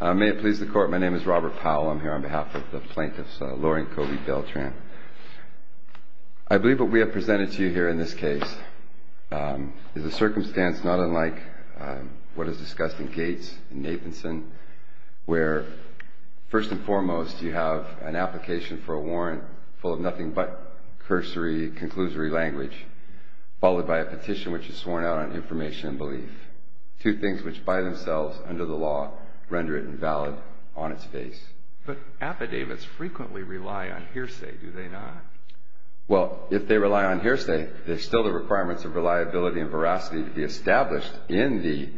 May it please the court, my name is Robert Powell. I'm here on behalf of the plaintiffs, Lori and Kobe Beltran. I believe what we have presented to you here in this case is a circumstance not unlike what is discussed in Gates and Nathanson, where first and foremost you have an application for a warrant full of nothing but cursory, conclusory language, followed by a petition which is sworn out on information and belief. Two things which by themselves, under the law, render it invalid on its face. But affidavits frequently rely on hearsay, do they not? Well, if they rely on hearsay, there's still the requirements of reliability and veracity to be established in the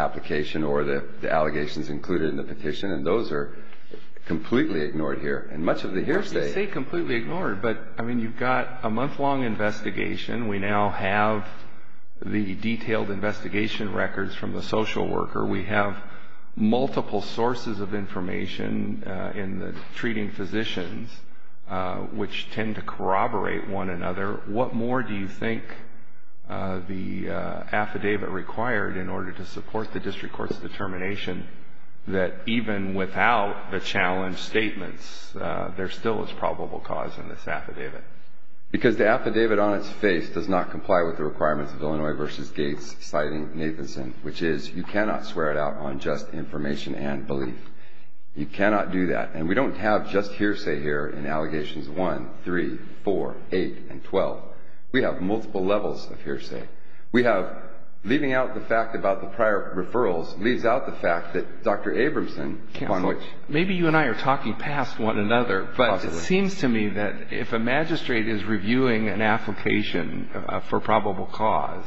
application or the allegations included in the petition, and those are completely ignored here. And much of the hearsay... Well, you say completely ignored, but I mean you've got a month-long investigation. We now have the detailed investigation records from the social worker. We have multiple sources of information in the treating physicians which tend to corroborate one another. What more do you think the affidavit required in order to support the district court's determination that even without the challenge statements, there still is probable cause in this affidavit? Because the affidavit on its face does not comply with the requirements of Illinois v. Gates, citing Nathanson, which is you cannot swear it out on just information and belief. You cannot do that. And we don't have just hearsay here in allegations 1, 3, 4, 8, and 12. We have multiple levels of hearsay. We have leaving out the fact about the prior referrals leaves out the fact that Dr. Abramson... Maybe you and I are talking past one another, but it seems to me that if a magistrate is reviewing an application for probable cause,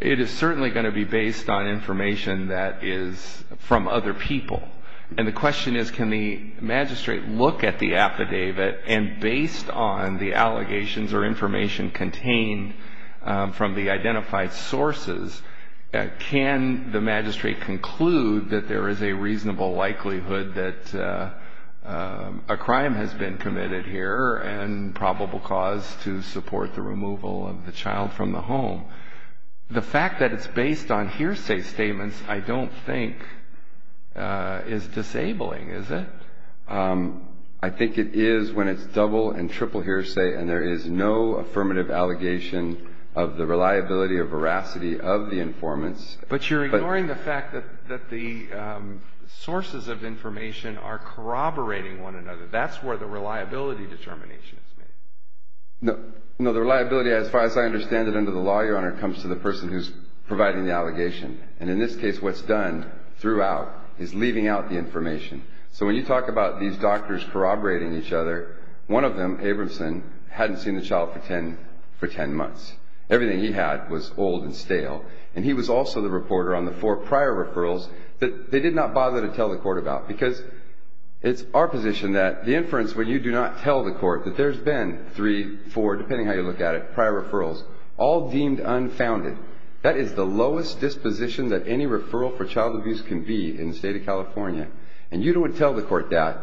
it is certainly going to be based on information that is from other people. And the question is can the magistrate look at the affidavit and based on the allegations or information contained from the identified sources, can the magistrate conclude that there is a reasonable likelihood that a crime has been committed here and probable cause to support the removal of the child from the home? The fact that it's based on hearsay statements I don't think is disabling, is it? I think it is when it's double and triple hearsay and there is no affirmative allegation of the reliability or veracity of the informants. But you're ignoring the fact that the sources of information are corroborating one another. That's where the reliability determination is made. No, the reliability as far as I understand it under the law, Your Honor, comes to the person who's providing the allegation. And in this case, what's done throughout is leaving out the information. So when you talk about these doctors corroborating each other, one of them, Abramson, hadn't seen the child for 10 months. Everything he had was old and stale. And he was also the reporter on the four prior referrals that they did not bother to tell the court about because it's our position that the inference when you do not tell the court that there's been three, four, depending how you look at it, prior referrals, all deemed unfounded. That is the lowest disposition that any referral for child abuse can be in the state of California. And you don't tell the court that.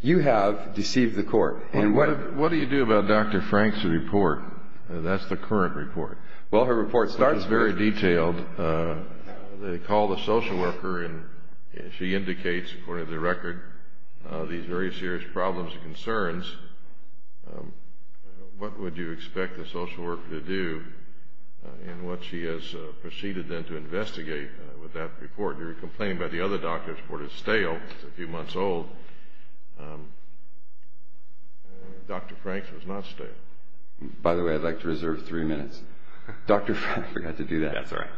You have deceived the court. And what do you do about Dr. Frank's report? That's the current report. Well, her report starts very detailed. They call the social worker and she has very serious problems and concerns. What would you expect the social worker to do in what she has proceeded then to investigate with that report? Your complaint about the other doctor's report is stale. It's a few months old. Dr. Frank's was not stale. By the way, I'd like to reserve three minutes. Dr. Frank forgot to do that. That's all right.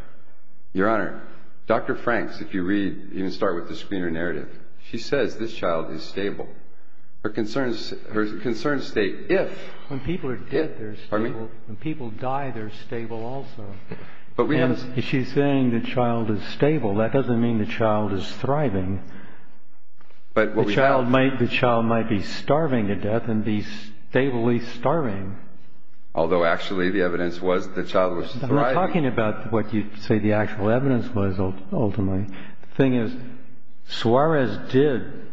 Your Honor, Dr. Frank's, if you read, even start with the screener narrative, she says this child is stable. Her concerns state if. When people are dead, they're stable. When people die, they're stable also. She's saying the child is stable. That doesn't mean the child is thriving. The child might be starving to death and be stably starving. Although actually the evidence was the child was thriving. I'm not talking about what you say the actual evidence was ultimately. The thing is, Suarez did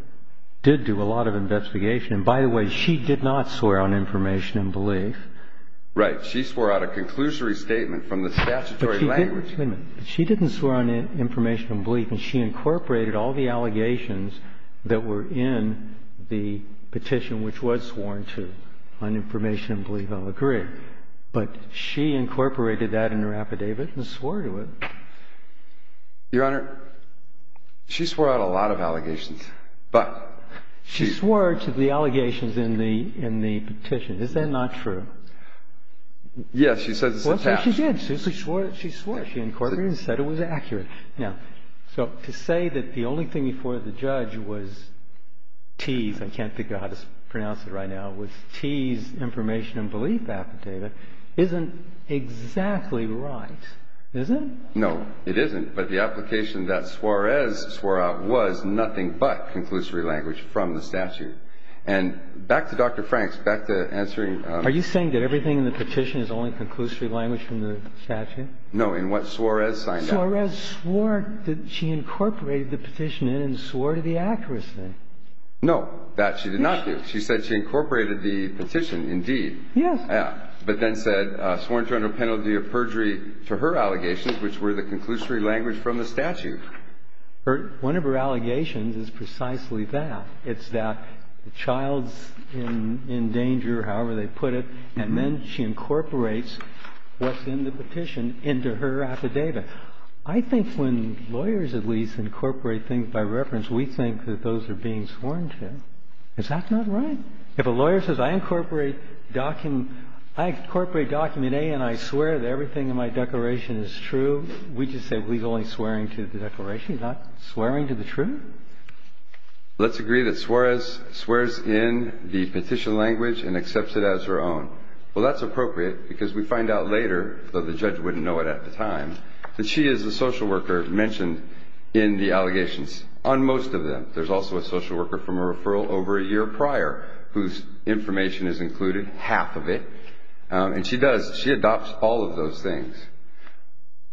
do a lot of investigation. By the way, she did not swear on information and belief. Right. She swore out a conclusory statement from the statutory language. She didn't swear on information and belief. She incorporated all the allegations that were in the petition, which was sworn to on information and belief. I'll agree. She incorporated that in her affidavit and swore to it. Your Honor, she swore out a lot of allegations, but she swore to the allegations in the in the petition. Is that not true? Yes, she says it's attached. She did. She swore. She swore. She incorporated and said it was accurate. Now, so to say that the only thing before the judge was teased, I can't think of how to pronounce it right now, was teased information and belief affidavit isn't exactly right, is it? No, it isn't. But the application that Suarez swore out was nothing but conclusory language from the statute. And back to Dr. Franks, back to answering. Are you saying that everything in the petition is only conclusory language from the statute? No, in what Suarez signed out. Suarez swore that she incorporated the petition and swore to the accuracy. No, that she did not do. She said she incorporated the petition indeed. Yes. But then said, sworn to under penalty of perjury to her allegations, which were the conclusory language from the statute. One of her allegations is precisely that. It's that the child's in danger, however they put it, and then she incorporates what's in the petition into her affidavit. I think when lawyers at least incorporate things by reference, we think that those are being sworn to. Is that not right? If a lawyer says, I incorporate document A and I swear that everything in my declaration is true, we just say we're only swearing to the declaration, not swearing to the truth. Let's agree that Suarez swears in the petition language and accepts it as her own. Well, that's appropriate because we find out later, though the judge wouldn't know it at the time, that she is the social worker mentioned in the allegations on most of them. There's also a social worker from a referral over a year prior whose information is included, half of it. And she does, she adopts all of those things.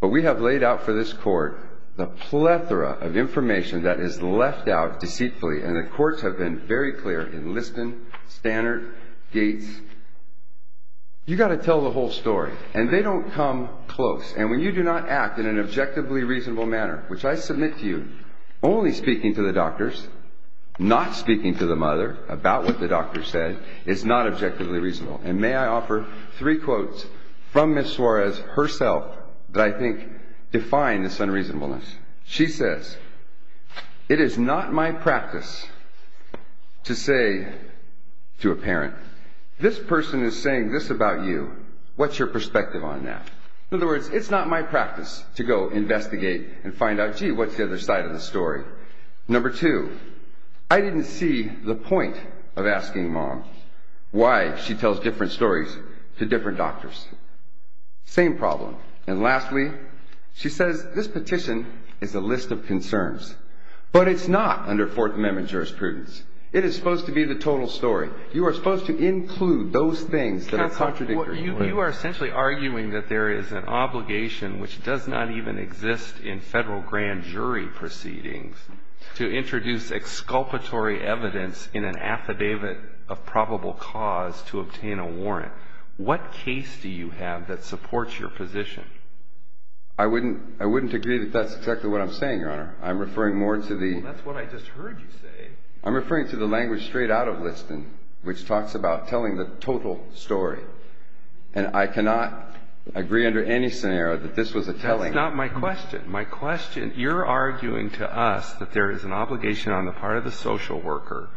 But we have laid out for this court the plethora of information that is left out deceitfully. And the courts have been very clear in Liston, Standard, Gates. You got to tell the whole story and they don't come close. And when you do not act in an speaking to the mother about what the doctor said, it's not objectively reasonable. And may I offer three quotes from Ms. Suarez herself that I think define this unreasonableness. She says, it is not my practice to say to a parent, this person is saying this about you. What's your perspective on that? In other words, it's not my practice to go investigate and find out, what's the other side of the story? Number two, I didn't see the point of asking mom why she tells different stories to different doctors. Same problem. And lastly, she says, this petition is a list of concerns, but it's not under Fourth Amendment jurisprudence. It is supposed to be the total story. You are supposed to include those things that are contradictory. You are essentially arguing that there is an obligation which does not even exist in federal grand jury proceedings to introduce exculpatory evidence in an affidavit of probable cause to obtain a warrant. What case do you have that supports your position? I wouldn't agree that that's exactly what I'm saying, Your Honor. I'm referring more to the- That's what I just heard you say. I'm referring to the language straight out of Liston, which talks about telling the total story. And I cannot agree under any scenario that this was a telling- That's not my question. You're arguing to us that there is an obligation on the part of the social worker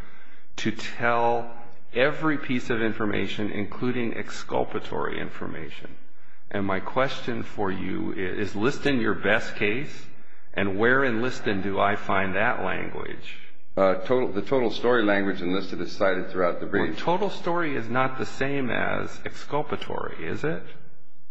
to tell every piece of information, including exculpatory information. And my question for you is, is Liston your best case? And where in Liston do I find that language? The total story language in Liston is cited throughout the brief. Well, total story is not the same as exculpatory, is it?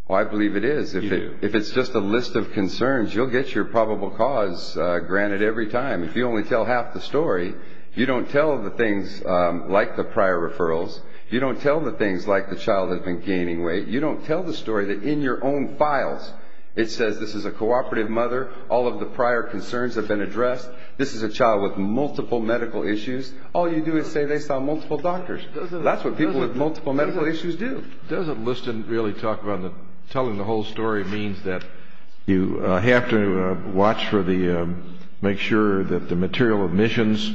Well, I believe it is. If it's just a list of concerns, you'll get your probable cause granted every time. If you only tell half the story, you don't tell the things like the prior referrals. You don't tell the things like the child has been gaining weight. You don't tell the story that in your own files, it says this is a cooperative mother. All of the prior concerns have been addressed. This is a child with multiple medical issues. All you do is say they saw multiple doctors. That's what people with multiple medical issues do. Doesn't Liston really talk about telling the whole story means that you have to watch for the, make sure that the material omissions,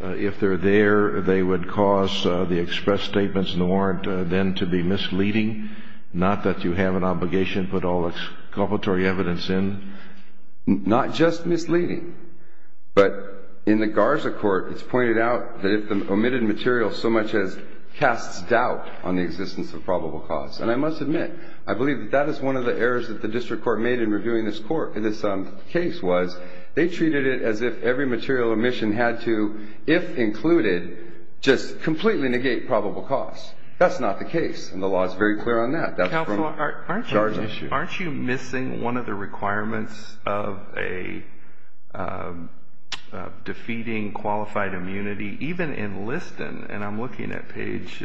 if they're there, they would cause the express statements in the warrant then to be misleading, not that you have an obligation to put all exculpatory evidence in. Not just misleading, but in the Garza court, it's pointed out that omitted material so much as casts doubt on the existence of probable cause. And I must admit, I believe that that is one of the errors that the district court made in reviewing this court, in this case was they treated it as if every material omission had to, if included, just completely negate probable cause. That's not the case. And the law is very clear on that. Counselor, aren't you missing one of the requirements of a defeating qualified immunity, even in Liston. And I'm looking at page,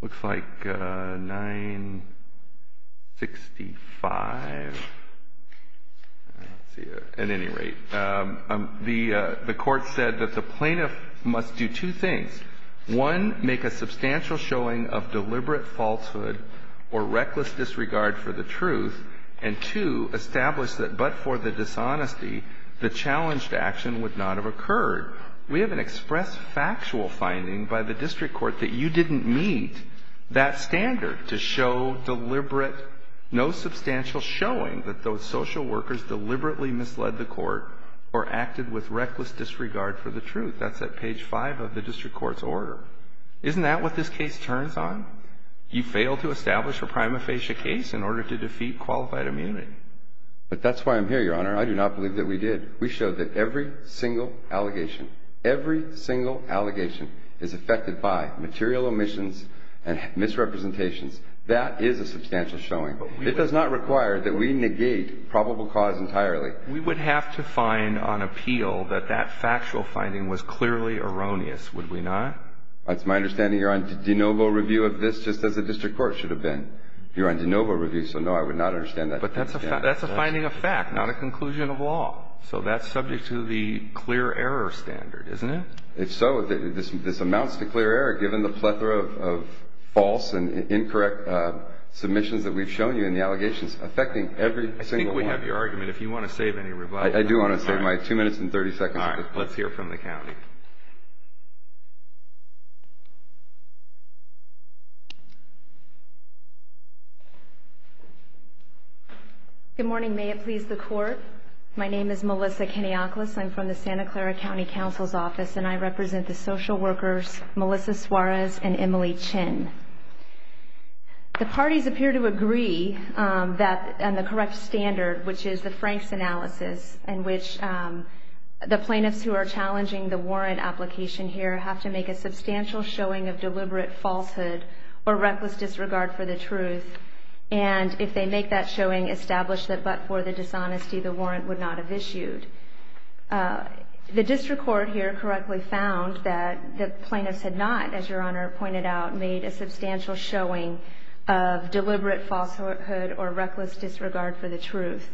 looks like 965. At any rate, the court said that the plaintiff must do two things. One, make a substantial showing of deliberate falsehood or reckless disregard for the truth. And two, establish that but for the dishonesty, the challenged action would not have occurred. We have an express factual finding by the district court that you didn't meet that standard to show deliberate, no substantial showing that those social workers deliberately misled the court or acted with reckless disregard for the truth. That's at page 5 of the district court's order. Isn't that what this case turns on? You fail to establish a prima facie case in order to I do not believe that we did. We showed that every single allegation, every single allegation is affected by material omissions and misrepresentations. That is a substantial showing. It does not require that we negate probable cause entirely. We would have to find on appeal that that factual finding was clearly erroneous, would we not? That's my understanding. You're on de novo review of this just as the district court should have been. You're on de fact, not a conclusion of law. So that's subject to the clear error standard, isn't it? If so, this amounts to clear error given the plethora of false and incorrect submissions that we've shown you in the allegations affecting every single one. I think we have your argument if you want to save any rebuttal. I do want to save my two minutes and 30 seconds. All right, let's hear from the county. Good morning. May it please the court. My name is Melissa Kenioklis. I'm from the Santa Clara County Council's office and I represent the social workers, Melissa Suarez and Emily Chin. The parties appear to agree that on the correct standard, which is the Frank's analysis, in which the plaintiffs who are challenging the warrant application here have to make a substantial showing of deliberate falsehood or reckless disregard for the truth. And if they make that showing, establish that but for the dishonesty, the warrant would not have issued. The district court here correctly found that the plaintiffs had not, as your honor pointed out, made a substantial showing of deliberate falsehood or reckless disregard for the truth.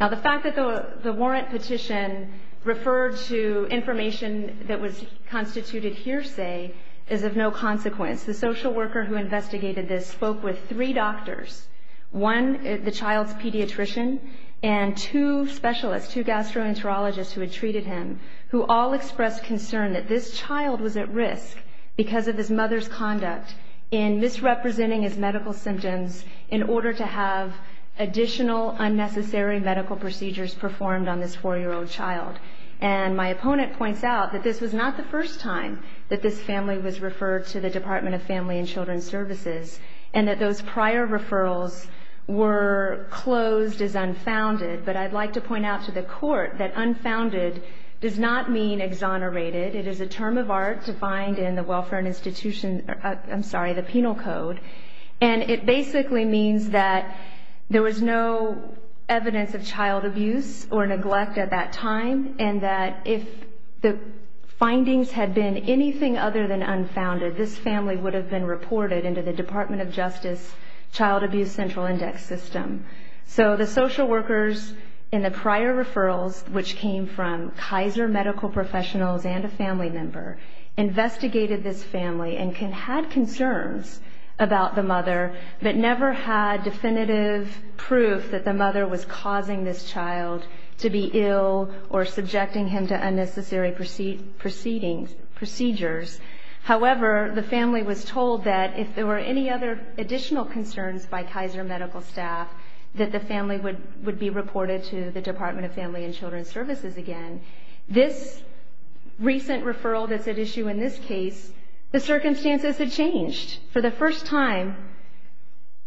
Now, the fact that the warrant petition referred to information that was constituted hearsay is of no consequence. The social worker who investigated this spoke with three doctors, one the child's pediatrician and two specialists, two gastroenterologists who had treated him, who all expressed concern that this child was at risk because of his mother's conduct in representing his medical symptoms in order to have additional unnecessary medical procedures performed on this four-year-old child. And my opponent points out that this was not the first time that this family was referred to the Department of Family and Children's Services and that those prior referrals were closed as unfounded. But I'd like to point out to the court that unfounded does not mean exonerated. It is a term of art defined in the welfare and I'm sorry, the penal code. And it basically means that there was no evidence of child abuse or neglect at that time and that if the findings had been anything other than unfounded, this family would have been reported into the Department of Justice Child Abuse Central Index System. So the social workers in the prior referrals, which came from Kaiser medical professionals and a family member, investigated this family and had concerns about the mother but never had definitive proof that the mother was causing this child to be ill or subjecting him to unnecessary procedures. However, the family was told that if there were any other additional concerns by Kaiser medical staff that the family would be reported to the Department of Family and Children's Services again. This recent referral that's at issue in this case, the circumstances had changed. For the first time,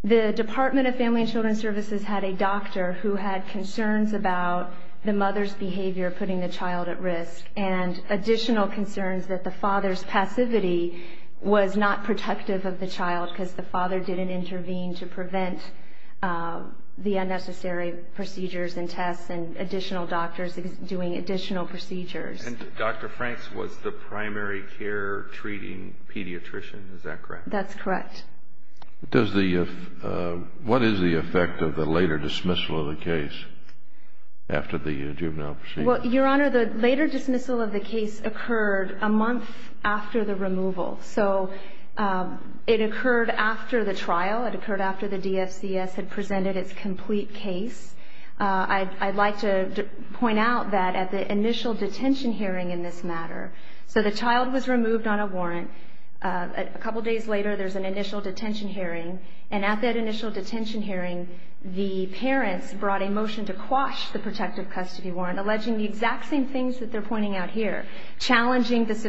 the Department of Family and Children's Services had a doctor who had concerns about the mother's behavior putting the child at risk and additional concerns that the father's passivity was not protective of the child because the father didn't intervene to prevent the unnecessary procedures and tests and additional doctors doing additional procedures. And Dr. Franks was the primary care treating pediatrician, is that correct? That's correct. What is the effect of the later dismissal of the case after the juvenile procedure? Well, Your Honor, the later dismissal of the case occurred a month after the removal. So it occurred after the trial. It occurred after the DFCS had presented its complete case. I'd like to point out that at the initial detention hearing in this matter, so the child was removed on a warrant. A couple days later, there's an initial detention hearing. And at that initial detention hearing, the parents brought a motion to quash the protective custody warrant, alleging the exact same things that they're pointing out here, challenging the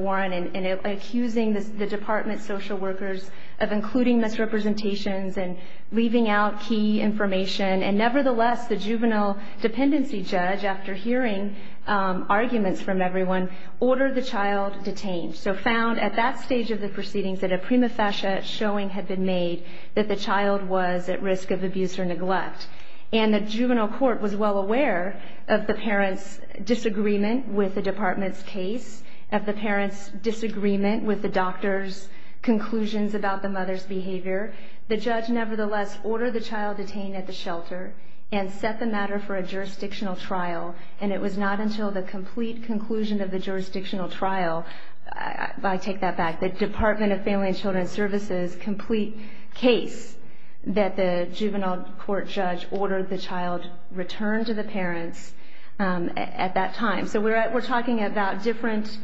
warrant and accusing the department social workers of including misrepresentations and leaving out key information. And nevertheless, the juvenile dependency judge, after hearing arguments from everyone, ordered the child detained. So found at that stage of the proceedings that a prima facie showing had been made that the child was at risk of abuse or neglect. And the juvenile court was well aware of the parents' disagreement with the department's case, of the parents' disagreement with the doctor's conclusions about the mother's behavior. The judge, nevertheless, ordered the child detained at the shelter and set the matter for a jurisdictional trial. And it was not until the complete conclusion of the jurisdictional trial, I take that back, the Department of Family and Children's Services' complete case that the juvenile court judge ordered the child returned to the parents at that time. So we're talking about different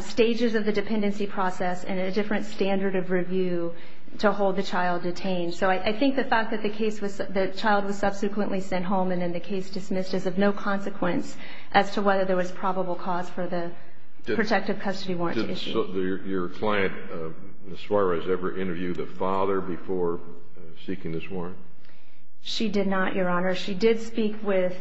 stages of the dependency process and a different standard of review to hold the child detained. So I think the fact that the child was subsequently sent home and then the case dismissed is of no consequence as to whether there was probable cause for the protective custody warrant issue. Did your client, Ms. Suarez, ever interview the father before seeking this warrant? She did not, Your Honor. She did speak with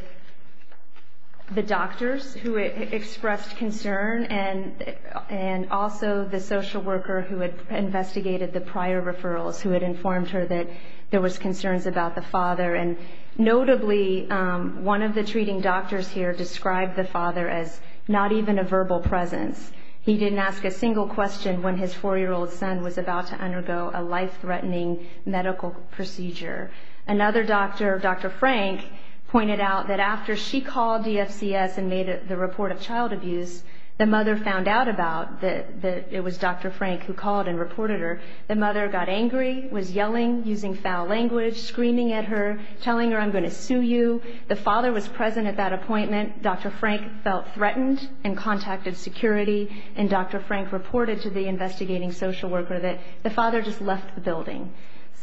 the doctors who expressed concern and also the social worker who had investigated the prior referrals who had informed her that there was concerns about the father. And notably, one of the treating doctors here described the father as not even a verbal presence. He didn't ask a single question when his four-year-old son was about to undergo a life-threatening medical procedure. Another doctor, Dr. Frank, pointed out that after she called DFCS and made the report of child abuse, the mother found out about that it was Dr. Frank who called and reported her. The mother got angry, was yelling, using foul language, screaming at her, telling her, I'm going to sue you. The father was present at that appointment. Dr. Frank felt threatened and contacted security. And Dr. Frank reported to the investigating social worker that the father just left the building.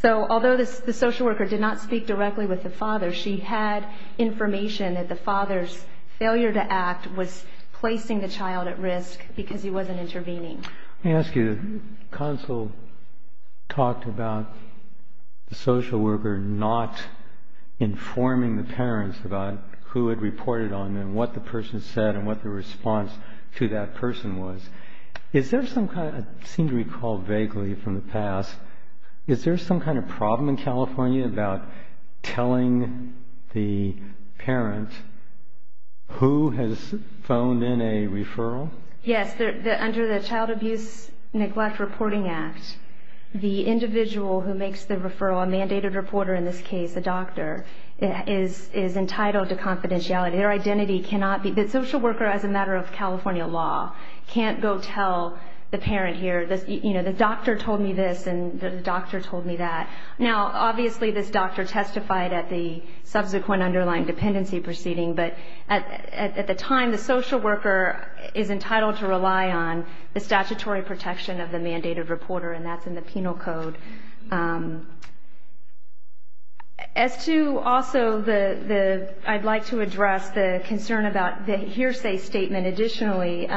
So although the social worker did not speak directly with the father, she had information that the father's failure to act was placing the child at risk because he wasn't intervening. Let me ask you, the consul talked about the social worker not informing the parents about who had reported on them, what the person said, and what the response to that person was. Is there some kind of, I seem to recall vaguely from the past, is there some kind of problem in California about telling the parent who has phoned in a referral? Yes, under the Child Abuse Neglect Reporting Act, the individual who makes the referral, a mandated reporter in this case, a doctor, is entitled to confidentiality. Their identity cannot be, the social worker, as a matter of California law, can't go tell the parent here, you know, the doctor told me this and the doctor told me that. Now, obviously, this doctor testified at the subsequent underlying dependency proceeding, but at the time, the social worker is entitled to rely on the statutory protection of the mandated reporter, and that's in the penal code. As to, also, the, I'd like to address the concern about the hearsay statement, additionally,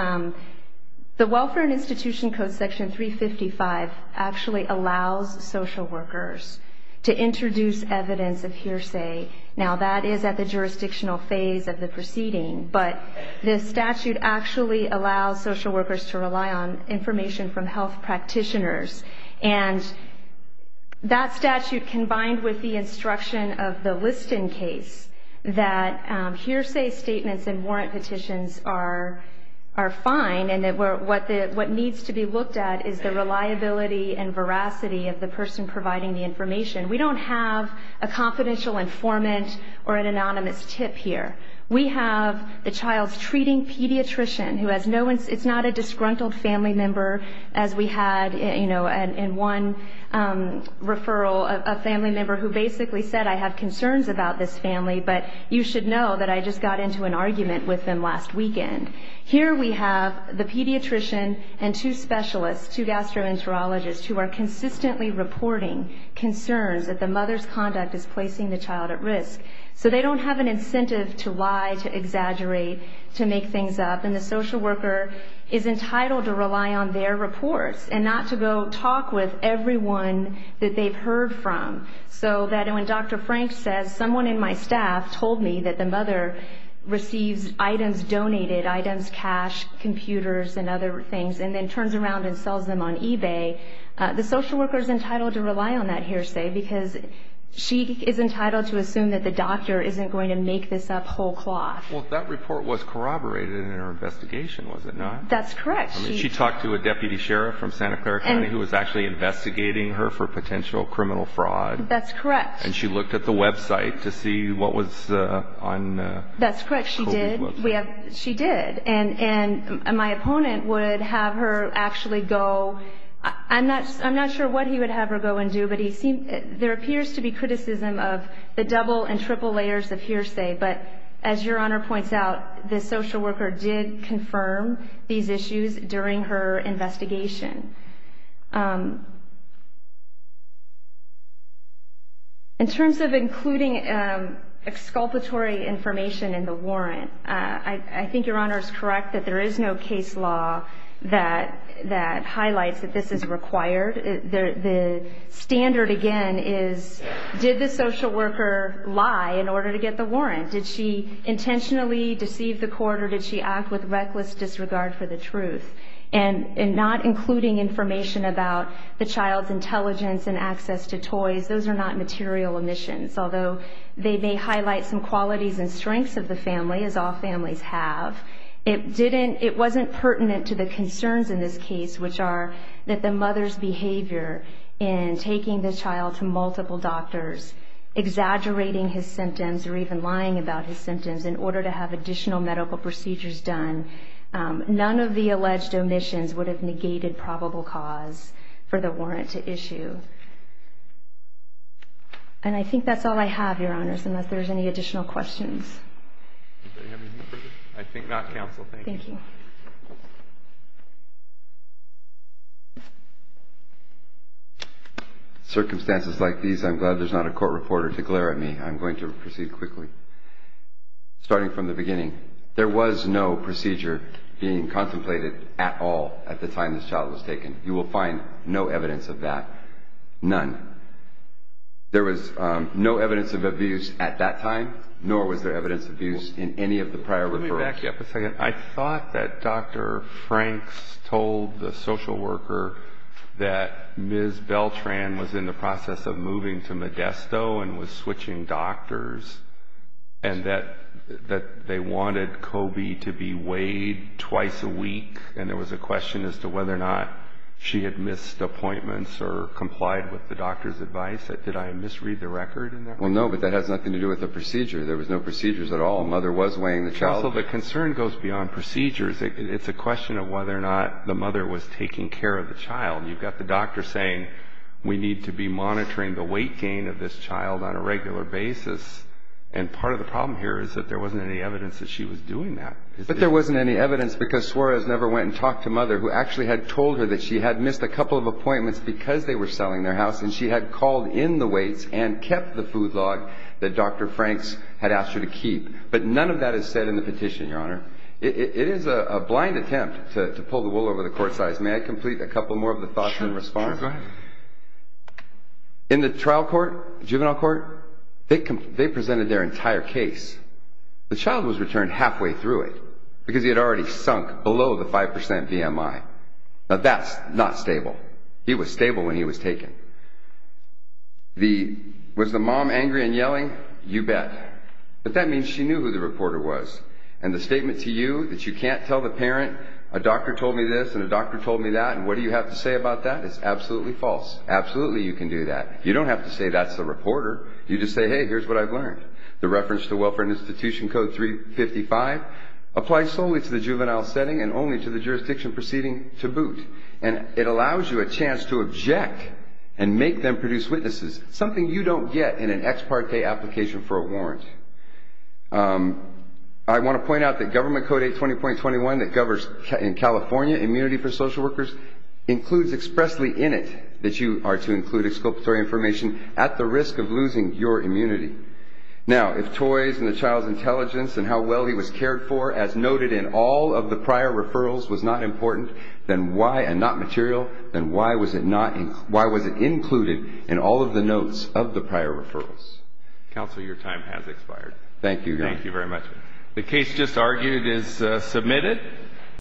the Welfare and Institution Code, Section 355, actually allows social workers to introduce evidence of hearsay. Now, that is at the jurisdictional phase of the proceeding, but this statute actually allows social workers to rely on information from health practitioners, and that statute, combined with the instruction of the Liston case, that hearsay statements and warrant petitions are fine, and that what needs to be looked at is the reliability and veracity of the person providing the information. We don't have a confidential informant or an anonymous tip here. We have the child's treating pediatrician, who has no, it's not a disgruntled family member, as we had, you know, in one referral, a family member who basically said, I have concerns about this family, but you should know that I just got into an argument with them last weekend. Here we have the pediatrician and two specialists, two gastroenterologists, who are consistently reporting concerns that the mother's conduct is placing the child at risk, so they don't have an incentive to lie, to exaggerate, to make things up, and the social worker is entitled to rely on their reports and not to go talk with everyone that they've heard from, so that when Dr. Frank says, someone in my staff told me that the mother receives items donated, items, cash, computers, and other things, and then turns around and sells them on eBay, the social worker is entitled to rely on that hearsay because she is entitled to assume that the doctor isn't going to make this up whole cloth. Well, if that report was corroborated in her investigation, was it not? That's correct. She talked to a deputy sheriff from Santa Clara County who was actually investigating her for potential criminal fraud. That's correct. And she looked at the website to see what was on... That's correct, she did. She did, and my opponent would have her actually go, I'm not sure what he would have her go and do, but he seemed, there appears to be criticism of the double and triple layers of hearsay, but as Your Honor points out, the social worker did confirm these issues during her investigation. In terms of including exculpatory information in the warrant, I think Your Honor is correct that there is no case law that highlights that this is required. The standard, again, is did the social worker lie in order to get the warrant? Did she intentionally deceive the court or did she act with reckless disregard for the truth? And not including information about the child's intelligence and access to toys, those are not material omissions, although they may highlight some qualities and strengths of the family, as all families have. It wasn't pertinent to the concerns in this case, which are that the mother's behavior in taking the child to multiple doctors, exaggerating his symptoms or even lying about his symptoms in order to have additional medical procedures done, none of the alleged omissions would have negated probable cause for the warrant to issue. And I think that's all I have, Your Honors, unless there's any additional questions. I think not, Counsel. Thank you. In circumstances like these, I'm glad there's not a court reporter to glare at me. I'm going to proceed quickly. Starting from the beginning, there was no procedure being contemplated at all at the time this child was taken. You will find no evidence of that, none. There was no evidence of abuse at that time, nor was there evidence of abuse in any of the prior referrals. I thought that Dr. Franks told the social worker that Ms. Beltran was in the process of moving to Modesto and was switching doctors, and that they wanted Kobe to be weighed twice a week, and there was a question as to whether or not she had missed appointments or complied with the doctor's advice. Did I misread the record? Well, no, but that has nothing to do with the procedure. There was no procedures at all. Counsel, the concern goes beyond procedures. It's a question of whether or not the mother was taking care of the child. You've got the doctor saying we need to be monitoring the weight gain of this child on a regular basis, and part of the problem here is that there wasn't any evidence that she was doing that. But there wasn't any evidence because Suarez never went and talked to Mother, who actually had told her that she had missed a couple of appointments because they were selling their house, and she had called in the weights and kept the food log that Dr. Franks had asked her to keep. But none of that is said in the petition, Your Honor. It is a blind attempt to pull the wool over the court's eyes. May I complete a couple more of the thoughts in response? Sure, go ahead. In the trial court, juvenile court, they presented their entire case. The child was returned halfway through it because he had already sunk below the 5 percent BMI. Now, that's not stable. He was You bet. But that means she knew who the reporter was, and the statement to you that you can't tell the parent, a doctor told me this and a doctor told me that, and what do you have to say about that? It's absolutely false. Absolutely you can do that. You don't have to say that's the reporter. You just say, hey, here's what I've learned. The reference to Welfare Institution Code 355 applies solely to the juvenile setting and only to the jurisdiction proceeding to boot, and it allows you a chance to object and make them produce witnesses, something you don't get in an ex parte application for a warrant. I want to point out that Government Code 820.21 that governs in California immunity for social workers includes expressly in it that you are to include exculpatory information at the risk of losing your immunity. Now, if toys and the child's intelligence and how well he was cared for as noted in all of the prior referrals was not important, then why, and not material, then why was it not, why was it included in all of the notes of the prior referrals? Counsel, your time has expired. Thank you. Thank you very much. The case just argued is submitted.